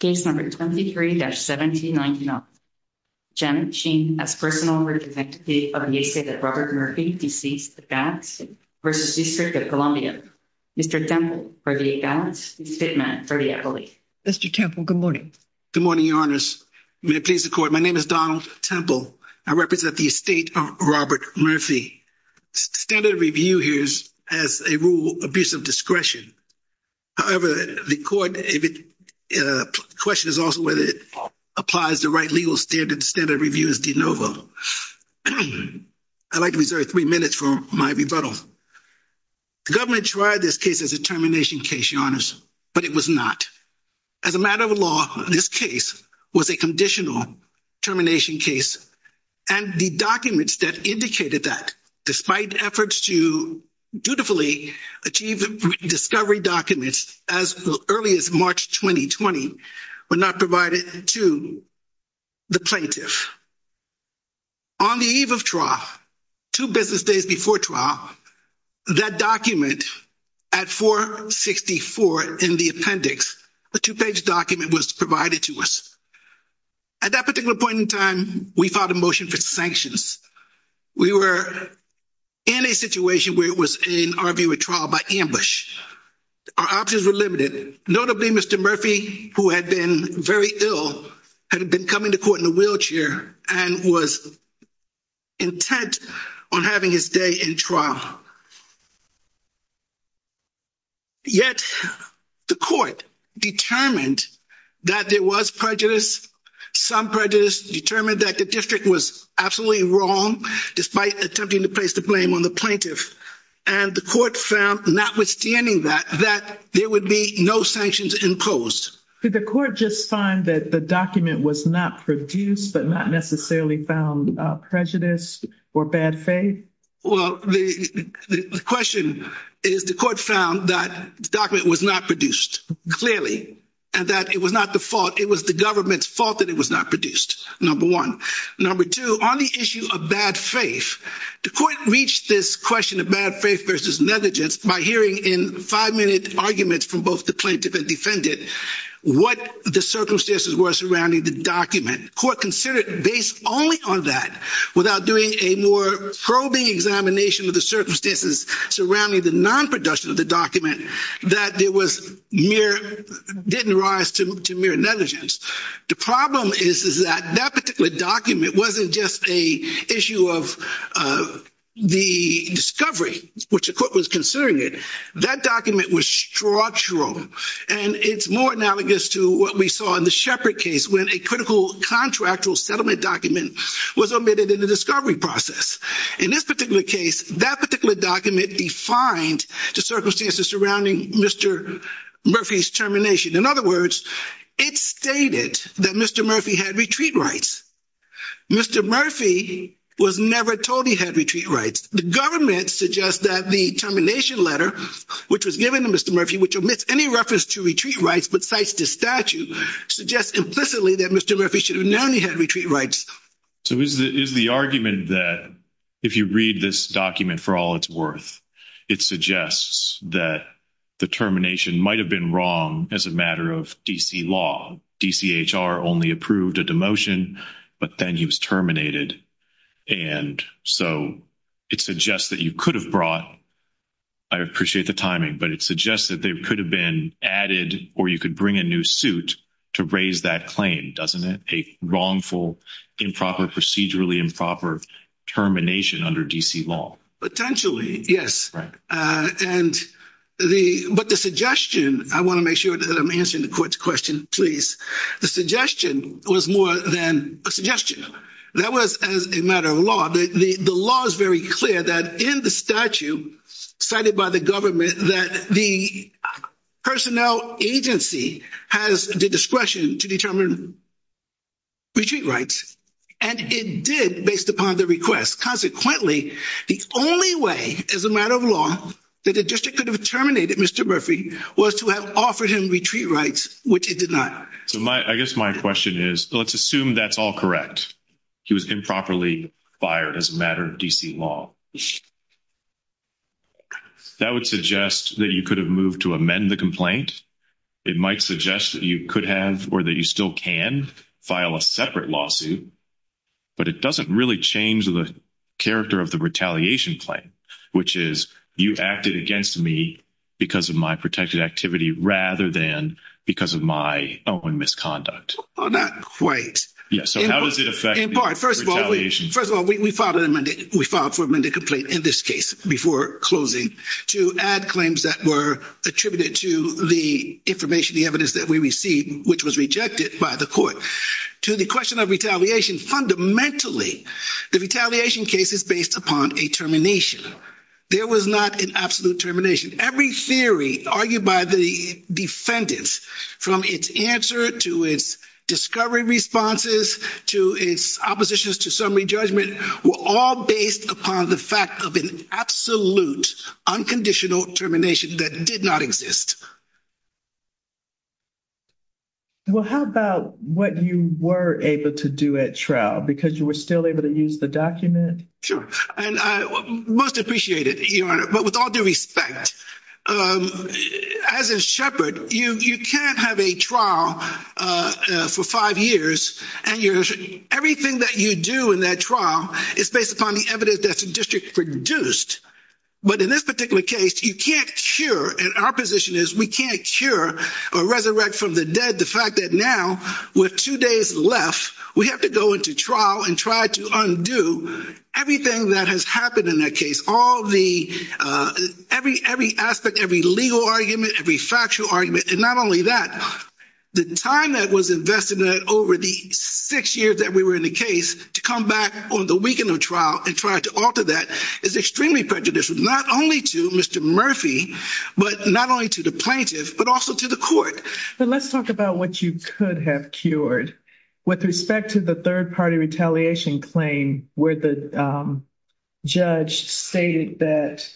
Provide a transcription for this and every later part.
23-7099, Jen Sheen as personal representative of the estate of Robert Murphy, DC, the Gads v. District of Columbia. Mr. Temple for the Gads, Ms. Fitman for the Eppley. Mr. Temple, good morning. Good morning, Your Honors. May it please the Court, my name is Donald Temple. I represent the estate of Robert Murphy. Standard review here is as a rule, abuse of discretion. However, the Court, the question is also whether it applies the right legal standard. Standard review is de novo. I'd like to reserve three minutes for my rebuttal. The government tried this case as a termination case, Your Honors, but it was not. As a matter of law, this case was a conditional termination case and the documents that indicated that, despite efforts to dutifully achieve the discovery documents as early as March 2020 were not provided to the plaintiff. On the eve of trial, two business days before trial, that document at 464 in the appendix, a two-page document was provided to us. At that particular point in time, we filed a motion for sanctions. We were in a situation where it was, in our view, a trial by ambush. Our options were limited. Notably, Mr. Murphy, who had been very ill, had been coming to court in a wheelchair and was intent on having his day in trial. Yet, the Court determined that there was prejudice. Some prejudice determined that the district was absolutely wrong, despite attempting to place the blame on the plaintiff. And the Court found, notwithstanding that, that there would be no sanctions imposed. Did the Court just find that the document was not produced, but not necessarily found prejudice or bad faith? Well, the question is, the Court found that the document was not produced, clearly, and that it was not the fault. It was the government's fault that it was not produced, number one. Number two, on the issue of bad faith, the Court reached this question of bad faith versus negligence by hearing in five-minute arguments from both the plaintiff and defendant what the circumstances were surrounding the document. Court considered, based only on that, without doing a more probing examination of the circumstances surrounding the non-production of the document, that there was mere—didn't rise to mere negligence. The problem is, is that that particular document wasn't just an issue of the discovery, which the Court was considering it. That document was structural, and it's more analogous to what we saw in the Shepard case, when a critical contractual settlement document was omitted in the discovery process. In this particular case, that particular document defined the circumstances surrounding Mr. Murphy's termination. In other words, it stated that Mr. Murphy had retreat rights. Mr. Murphy was never told he had retreat rights. The government suggests that the termination letter, which was given to Mr. Murphy, which omits any reference to retreat rights but cites the statute, suggests implicitly that Mr. Murphy should have known he had retreat rights. So is the argument that if you read this document for all it's worth, it suggests that the termination might have been wrong as a matter of D.C. law? D.C.H.R. only approved a demotion, but then he was terminated, and so it suggests that you could have brought—I appreciate the timing—but it suggests that they could have been added or you could bring a new suit to raise that claim, doesn't it? A wrongful, improper, procedurally improper termination under D.C. law. Potentially, yes. But the suggestion—I want to make sure that I'm answering the court's question, please—the suggestion was more than a suggestion. That was as a matter of law. The law is very clear that in the statute cited by the government that the personnel agency has the discretion to determine retreat rights, and it did based upon the request. Consequently, the only way as a matter of law that the district could have terminated Mr. Murphy was to have offered him retreat rights, which it did not. So I guess my question is, let's assume that's all correct. He was improperly fired as a matter of D.C. law. That would suggest that you could have moved to amend the complaint. It might suggest that you could have or that you still can file a separate lawsuit, but it doesn't really change the character of the retaliation claim, which is you acted against me because of my protected activity rather than because of my own misconduct. Not quite. So how does it affect the retaliation? First of all, we filed for amended complaint in this case before closing to add claims that were attributed to the information, the evidence that we received, which was rejected by the court. To the question of retaliation, fundamentally, the retaliation case is based upon a termination. There was not an absolute termination. Every theory argued by the defendants from its answer to its discovery responses to its oppositions to summary judgment were all based upon the fact of an absolute, unconditional termination that did not exist. Well, how about what you were able to do at trial because you were still able to use the document? Sure. And I most appreciate it, Your Honor. But with all due respect, as in Shepard, you can't have a trial for five years and everything that you do in that trial is based upon the evidence that the district produced. But in this particular case, you can't cure, and our position is we can't cure or resurrect from the dead the fact that now with two days left, we have to go into trial and try to undo everything that has happened in that case. Every aspect, every legal argument, every factual argument, and not only that, the time that was invested in that over the six years that we were in the case to come back on the weekend of trial and try to alter that is extremely prejudicial, not only to Mr. Murphy, but not only to the plaintiff, but also to the court. But let's talk about what you could have cured with respect to the third-party retaliation claim where the judge stated that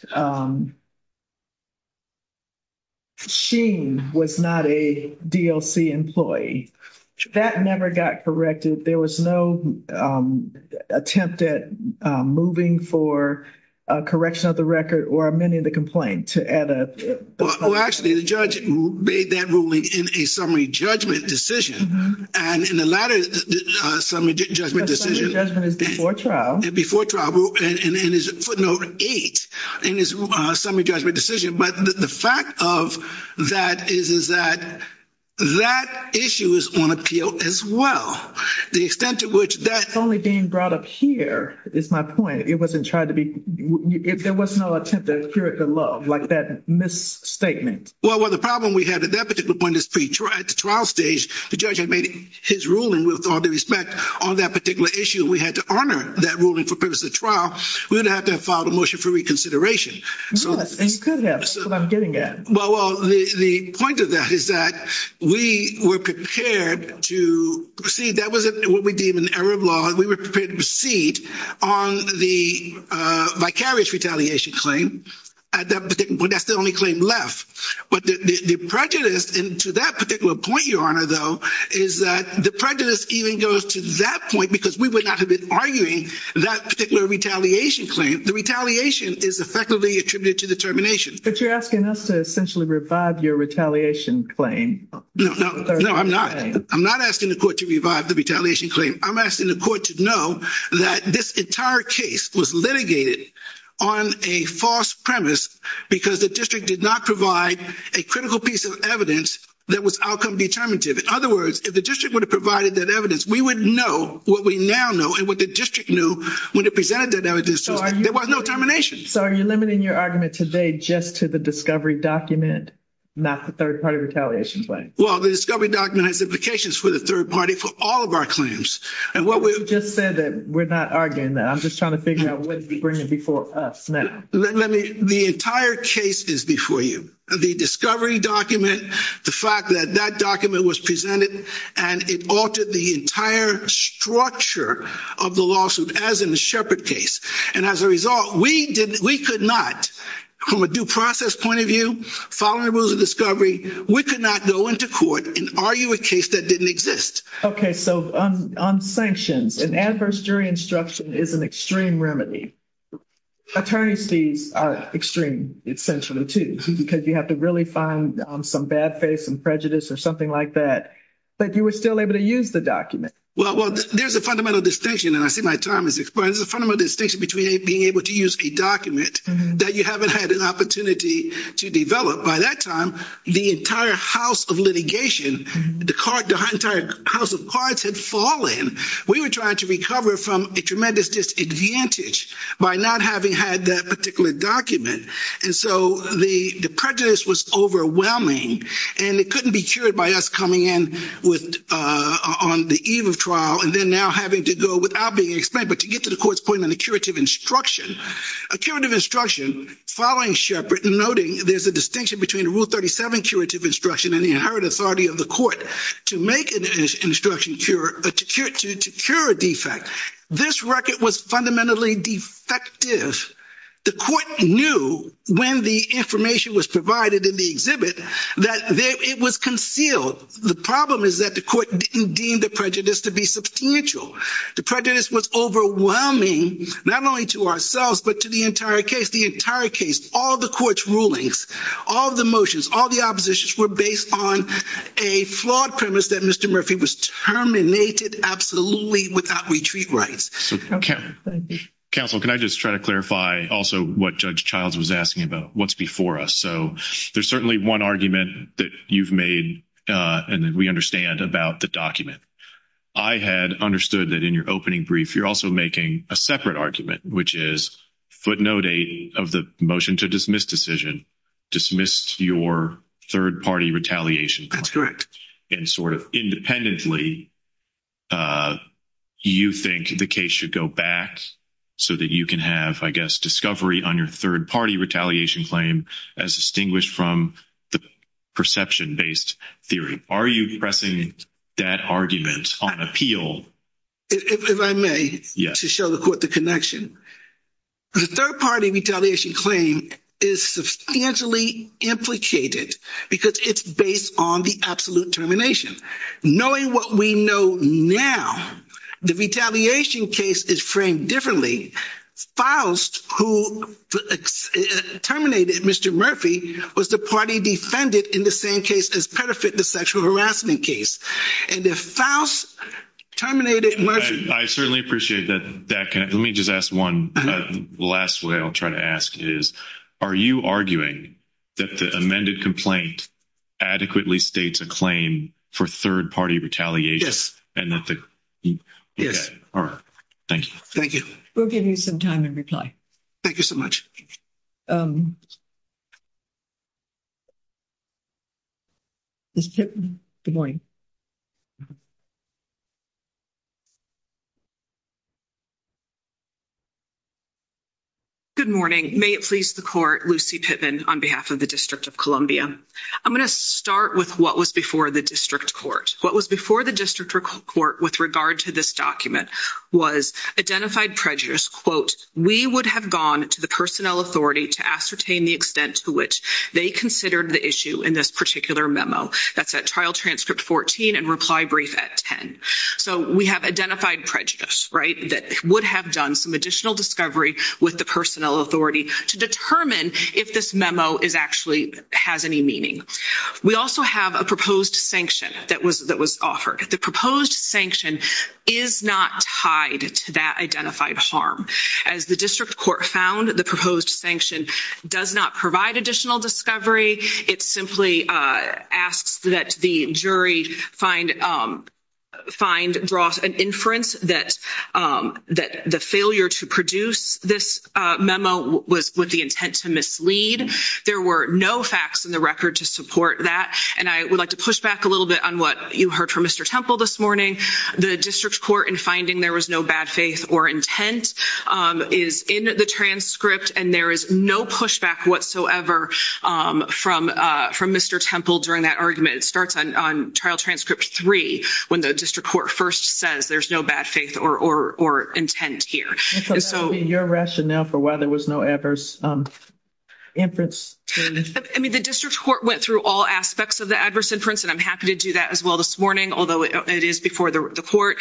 Sheen was not a DLC employee. That never got corrected. There was no attempt at moving for a correction of the record or amending the complaint to add a... Well, actually, the judge made that ruling in a summary judgment decision, and in the latter summary judgment decision... Summary judgment is before trial. Before trial, and is footnote eight in his summary judgment decision. But the fact of that is that that issue is on appeal as well. The extent to which that... It's only being brought up here is my point. It wasn't tried to be... If there was no attempt to cure it below, like that misstatement. Well, the problem we had at that particular point is at the trial stage, the judge had made his ruling with all due respect on that particular issue. We had to honor that ruling for purpose of trial. We would have to have filed a motion for reconsideration. Yes, and you could have. That's what I'm getting at. Well, the point of that is that we were prepared to proceed. That wasn't what we deem an error of law. We were prepared to proceed on the vicarious retaliation claim at that particular point. That's the only claim left. But the prejudice into that particular point, Your Honor, though, is that the prejudice even goes to that point because we would not have been arguing that particular retaliation claim. The retaliation is effectively attributed to the termination. But you're asking us to essentially revive your retaliation claim. No, I'm not. I'm not asking the court to revive the retaliation claim. I'm asking the court to know that this entire case was litigated on a false premise because the district did not provide a critical piece of evidence that was outcome determinative. In other words, if the district would have provided that evidence, we would know what we now know and what the district knew when it presented that evidence. There was no termination. So are you limiting your argument today just to the discovery document, not the third party retaliation claim? Well, the discovery document has implications for the third party for all of our claims. And what we just said that we're not arguing that I'm just trying to figure out what's bringing before us now. The entire case is before you. The discovery document, the fact that that document was presented and it altered the entire structure of the lawsuit as in the Shepard case. And as a result, we could not, from a due process point of view, following the rules of discovery, we could not go into court and argue a case that didn't exist. Okay. So on sanctions, an adverse jury instruction is an extreme remedy. Attorneys are extreme, essentially, too, because you have to really find some bad face and prejudice or something like that. But you were still able to use the document. Well, there's a fundamental distinction. And I see my time is expiring. There's a fundamental distinction between being able to use a document that you haven't had an opportunity to develop. By that time, the entire house of litigation, the entire house of cards had fallen. We were trying to recover from a tremendous disadvantage by not having had that particular document. And so the prejudice was overwhelming. And it couldn't be cured by us coming in on the eve of trial and then now having to go without being explained. But to get to the court's point on the curative instruction, a curative instruction following Sheppard, noting there's a distinction between the Rule 37 curative instruction and the inherent authority of the court to make an instruction to cure a defect. This record was fundamentally defective. The court knew when the information was provided in the exhibit that it was concealed. The problem is that the court didn't deem the prejudice to be substantial. The prejudice was overwhelming, not only to ourselves, but to the entire case. The entire case, all the court's rulings, all the motions, all the oppositions were based on a flawed premise that Mr. Murphy was terminated absolutely without retreat rights. Counsel, can I just try to clarify also what Judge Childs was asking about? What's before us? So there's certainly one argument that you've made and that we understand about the document. I had understood that in your opening brief, you're also making a separate argument, which is footnote eight of the motion to dismiss decision, dismissed your third-party retaliation. That's correct. And sort of independently, you think the case should go back so that you can have, I guess, discovery on your third-party retaliation claim as distinguished from the perception-based theory. Are you pressing that argument on appeal? If I may, to show the court the connection. The third-party retaliation claim is substantially implicated because it's based on the absolute termination. Knowing what we know now, the retaliation case is framed differently. Faust, who terminated Mr. Murphy, was the party defended in the same case as Pettiford, the sexual harassment case. And if Faust terminated Murphy... I certainly appreciate that. Let me just ask one last way I'll try to ask is, are you arguing that the amended complaint adequately states a claim for third-party retaliation? Yes. All right. Thank you. Thank you. We'll give you some time to reply. Thank you so much. Ms. Pittman, good morning. Good morning. May it please the court, Lucy Pittman on behalf of the District of Columbia. I'm going to start with what was before the District Court. What was before the District Court with regard to this document was identified prejudice, quote, We would have gone to the personnel authority to ascertain the extent to which they considered the issue in this particular memo. That's at trial transcript 14 and reply brief at 10. So we have identified prejudice, right? That would have done some additional discovery with the personnel authority to determine if this memo actually has any meaning. We also have a proposed sanction that was offered. The proposed sanction is not tied to that identified harm. As the District Court found, the proposed sanction does not provide additional discovery. It simply asks that the jury find draws an inference that the failure to produce this memo was with the intent to mislead. There were no facts in the record to support that. And I would like to push back a little bit on what you heard from Mr. Temple this morning. The District Court in finding there was no bad faith or intent is in the transcript, and there is no pushback whatsoever from Mr. Temple during that argument. It starts on trial transcript three when the District Court first says there's no bad faith or intent here. And so your rationale for why there was no adverse inference? I mean, the District Court went through all aspects of the adverse inference, and I'm happy to do that as well this morning, although it is before the court,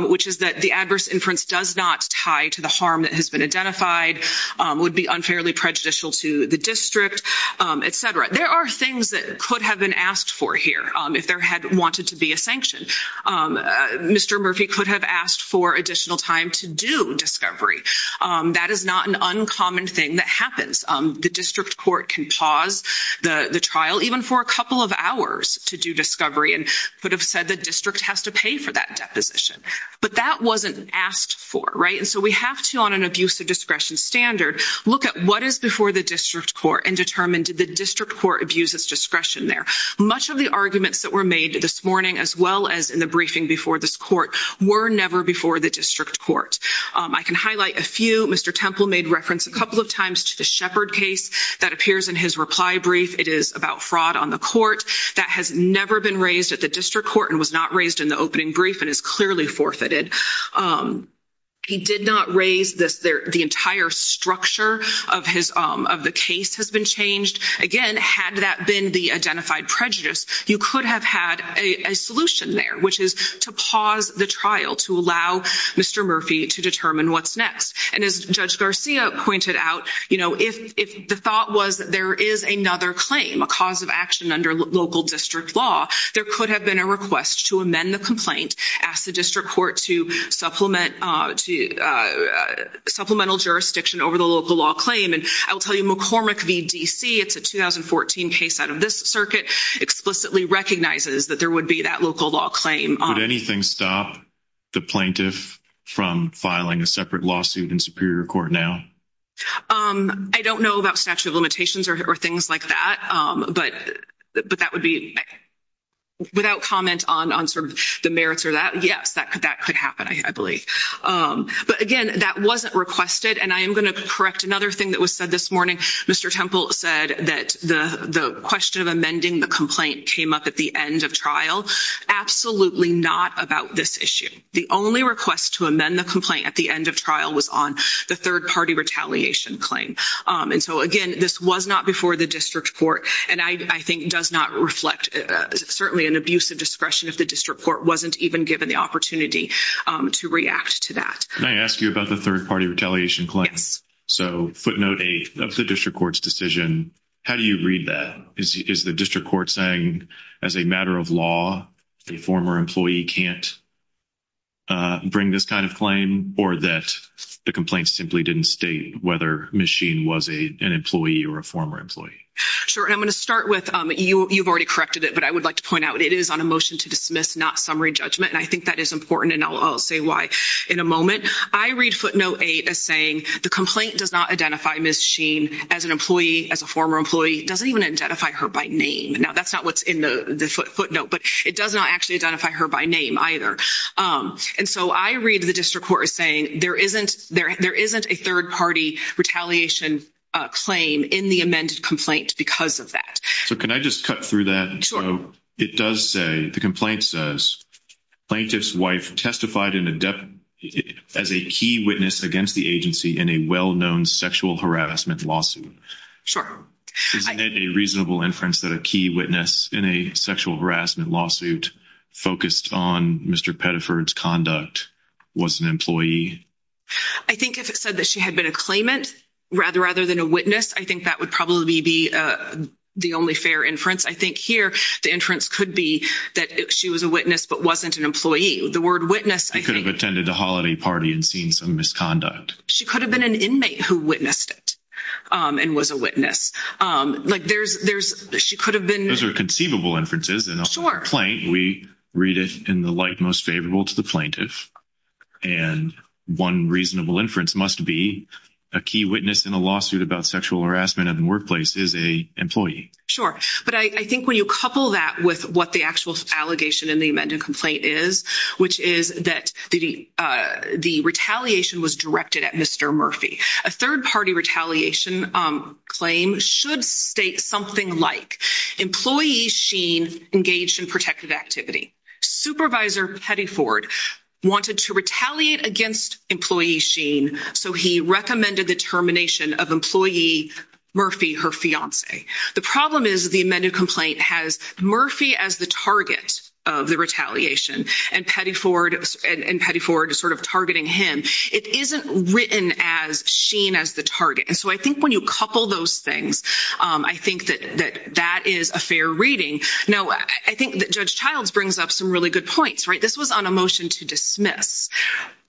which is that the adverse inference does not tie to the harm that has been identified, would be unfairly prejudicial to the District, et cetera. There are things that could have been asked for here if there had wanted to be a sanction. Mr. Murphy could have asked for additional time to do discovery. That is not an uncommon thing that happens. The District Court can pause the trial even for a couple of hours to do discovery and could have said the District has to pay for that deposition. But that wasn't asked for, right? And so we have to, on an abuse of discretion standard, look at what is before the District Court and determine, did the District Court abuse its discretion there? Much of the arguments that were made this morning, as well as in the briefing before this court, were never before the District Court. I can highlight a few. Mr. Temple made reference a couple of times to the Shepard case that appears in his reply brief. It is about fraud on the court. That has never been raised at the District Court and was not raised in the opening brief and is clearly forfeited. He did not raise the entire structure of the case has been changed. Again, had that been the identified prejudice, you could have had a solution there, which is to pause the trial to allow Mr. Murphy to determine what's next. And as Judge Garcia pointed out, if the thought was that there is another claim, a cause of action under local district law, there could have been a request to amend the complaint, ask the District Court to supplemental jurisdiction over the local law claim. And I'll tell you, McCormick v. D.C., it's a 2014 case out of this circuit, explicitly recognizes that there would be that local law claim. Would anything stop the plaintiff from filing a separate lawsuit in Superior Court now? I don't know about statute of limitations or things like that. But that would be without comment on sort of the merits or that. Yes, that could happen, I believe. But again, that wasn't requested. And I am going to correct another thing that was said this morning. Mr. Temple said that the question of amending the complaint came up at the end of trial. Absolutely not about this issue. The only request to amend the complaint at the end of trial was on the third-party retaliation claim. And so again, this was not before the District Court. I think it does not reflect certainly an abuse of discretion if the District Court wasn't even given the opportunity to react to that. Can I ask you about the third-party retaliation claim? So footnote 8 of the District Court's decision, how do you read that? Is the District Court saying as a matter of law, a former employee can't bring this kind of claim? Or that the complaint simply didn't state whether Ms. Sheen was an employee or a former employee? Sure, and I'm going to start with, you've already corrected it, but I would like to point out it is on a motion to dismiss, not summary judgment. And I think that is important, and I'll say why in a moment. I read footnote 8 as saying the complaint does not identify Ms. Sheen as an employee, as a former employee. Doesn't even identify her by name. Now, that's not what's in the footnote, but it does not actually identify her by name either. And so I read the District Court as saying there isn't a third-party retaliation claim in the amended complaint because of that. So can I just cut through that? It does say, the complaint says, plaintiff's wife testified as a key witness against the agency in a well-known sexual harassment lawsuit. Sure. Isn't it a reasonable inference that a key witness in a sexual harassment lawsuit focused on Mr. Pettiford's conduct was an employee? I think if it said that she had been a claimant rather than a witness, I think that would probably be the only fair inference. I think here, the inference could be that she was a witness but wasn't an employee. The word witness, I think... Could have attended a holiday party and seen some misconduct. She could have been an inmate who witnessed it and was a witness. Like there's, she could have been... Those are conceivable inferences in a complaint. We read it in the light most favorable to the plaintiff. And one reasonable inference must be a key witness in a lawsuit about sexual harassment in the workplace is a employee. Sure. But I think when you couple that with what the actual allegation in the amended complaint is, which is that the retaliation was directed at Mr. Murphy. A third-party retaliation claim should state something like, employee sheen engaged in protective activity. Supervisor Pettiford wanted to retaliate against employee sheen. So he recommended the termination of employee Murphy, her fiance. The problem is the amended complaint has Murphy as the target of the retaliation and Pettiford sort of targeting him. It isn't written as sheen as the target. And so I think when you couple those things, I think that that is a fair reading. Now, I think that Judge Childs brings up some really good points, right? This was on a motion to dismiss.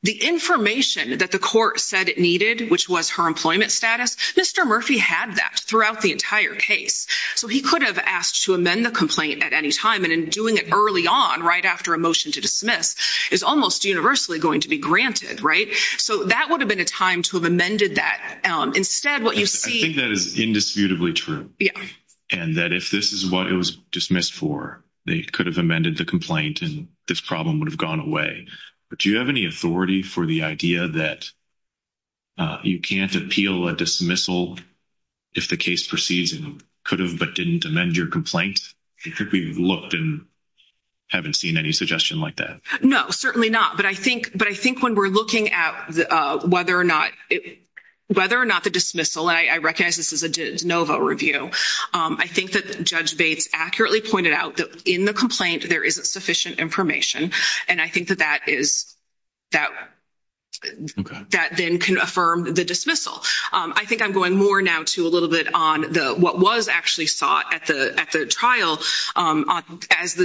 The information that the court said it needed, which was her employment status, Mr. Murphy had that throughout the entire case. So he could have asked to amend the complaint at any time. And in doing it early on, right after a motion to dismiss is almost universally going to be granted, right? So that would have been a time to have amended that. Instead, what you see... I think that is indisputably true. Yeah. And that if this is what it was dismissed for, they could have amended the complaint and this problem would have gone away. But do you have any authority for the idea that you can't appeal a dismissal if the case proceeds and could have but didn't amend your complaint? I think we've looked and haven't seen any suggestion like that. No, certainly not. But I think when we're looking at whether or not the dismissal, I recognize this is a de novo review. I think that Judge Bates accurately pointed out that in the complaint, there isn't sufficient information. And I think that that then can affirm the dismissal. I think I'm going more now to a little bit on what was actually sought at the trial, as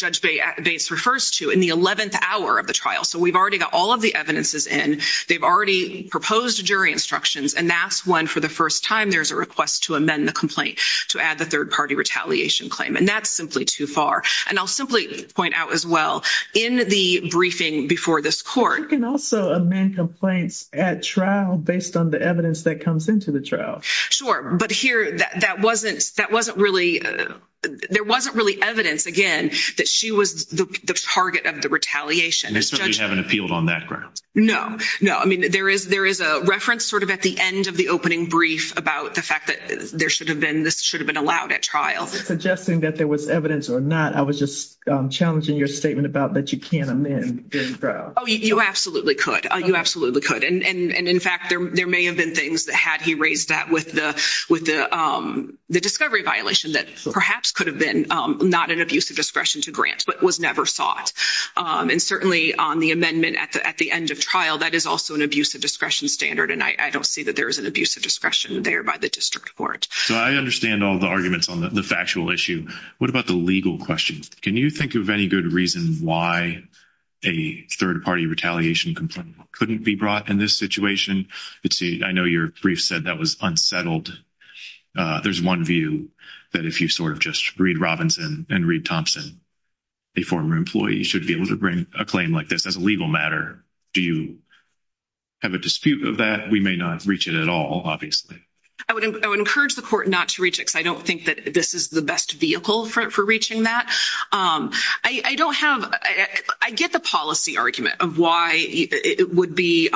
Judge Bates refers to, in the 11th hour of the trial. So we've already got all of the evidences in. They've already proposed jury instructions. And that's when, for the first time, there's a request to amend the complaint to add the third-party retaliation claim. And that's simply too far. And I'll simply point out as well, in the briefing before this court— You can also amend complaints at trial based on the evidence that comes into the trial. Sure. But here, that wasn't really—there wasn't really evidence, again, that she was the target of the retaliation. And this time, you haven't appealed on that ground. No, no. There is a reference sort of at the end of the opening brief about the fact that there should have been—this should have been allowed at trial. Suggesting that there was evidence or not, I was just challenging your statement about that you can amend during trial. Oh, you absolutely could. You absolutely could. And in fact, there may have been things, had he raised that with the discovery violation, that perhaps could have been not an abuse of discretion to grant, but was never sought. And certainly on the amendment at the end of trial, that is also an abuse of discretion standard. And I don't see that there is an abuse of discretion there by the district court. So I understand all the arguments on the factual issue. What about the legal questions? Can you think of any good reason why a third-party retaliation complaint couldn't be brought in this situation? I know your brief said that was unsettled. There's one view that if you sort of just read Robinson and read Thompson, a former employee should be able to bring a claim like this as a legal matter. Do you have a dispute of that? We may not reach it at all, obviously. I would encourage the court not to reach it, because I don't think that this is the best vehicle for reaching that. I don't have—I get the policy argument of why it would be—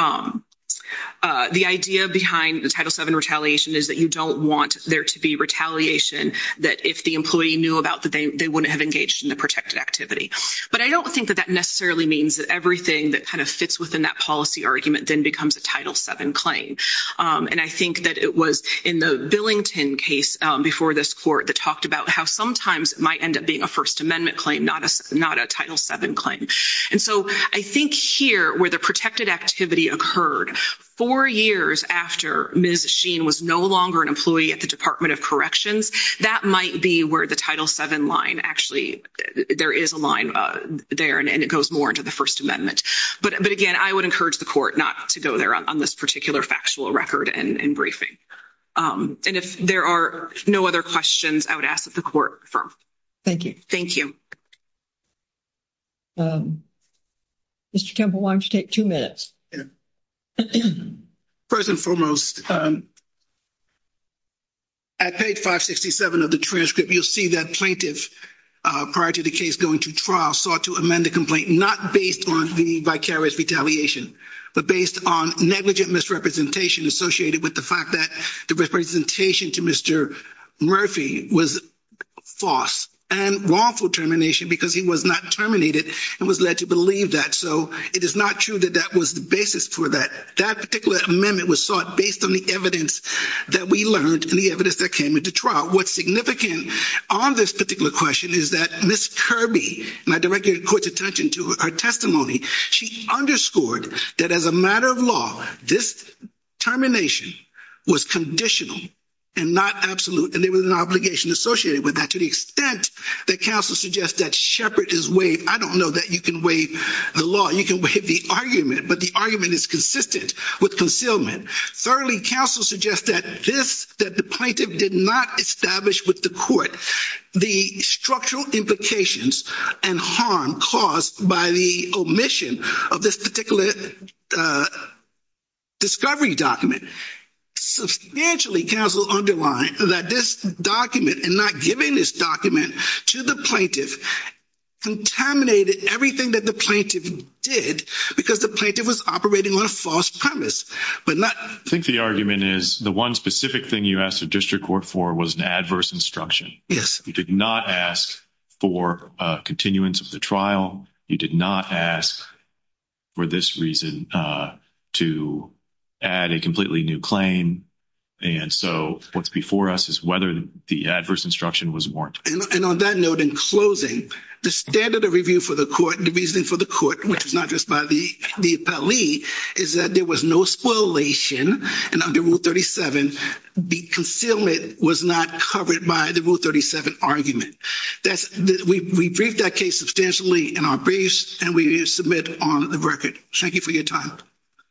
the idea behind the Title VII retaliation is that you don't want there to be retaliation that if the employee knew about, that they wouldn't have engaged in the protected activity. But I don't think that that necessarily means that everything that kind of fits within that policy argument then becomes a Title VII claim. And I think that it was in the Billington case before this court that talked about how sometimes it might end up being a First Amendment claim, not a Title VII claim. And so I think here where the protected activity occurred four years after Ms. Sheen was no longer an employee at the Department of Corrections, that might be where the Title VII line actually— there is a line there, and it goes more into the First Amendment. But again, I would encourage the court not to go there on this particular factual record and briefing. And if there are no other questions, I would ask that the court confirm. Thank you. Thank you. Mr. Temple, why don't you take two minutes? Yeah. First and foremost, at page 567 of the transcript, you'll see that plaintiff, prior to the case going to trial, sought to amend the complaint, not based on the vicarious retaliation, but based on negligent misrepresentation associated with the fact that the representation to Mr. Murphy was false and wrongful termination because he was not terminated and was led to believe that. So it is not true that that was the basis for that. That particular amendment was sought based on the evidence that we learned and the evidence that came into trial. What's significant on this particular question is that Ms. Kirby— and I direct your court's attention to her testimony— she underscored that as a matter of law, this termination was conditional and not absolute, and there was an obligation associated with that, to the extent that counsel suggests that Shepard is waived. I don't know that you can waive the law. You can waive the argument, but the argument is consistent with concealment. Thirdly, counsel suggests that the plaintiff did not establish with the court the structural implications and harm caused by the omission of this particular discovery document. Substantially, counsel underlined that this document, to the plaintiff, contaminated everything that the plaintiff did because the plaintiff was operating on a false premise, but not— I think the argument is the one specific thing you asked the district court for was an adverse instruction. Yes. You did not ask for a continuance of the trial. You did not ask for this reason to add a completely new claim. And so what's before us is whether the adverse instruction was warranted. And on that note, in closing, the standard of review for the court, the reasoning for the court, which is not just by the appellee, is that there was no spoilation, and under Rule 37, the concealment was not covered by the Rule 37 argument. We briefed that case substantially in our briefs, and we submit on the record. Thank you for your time.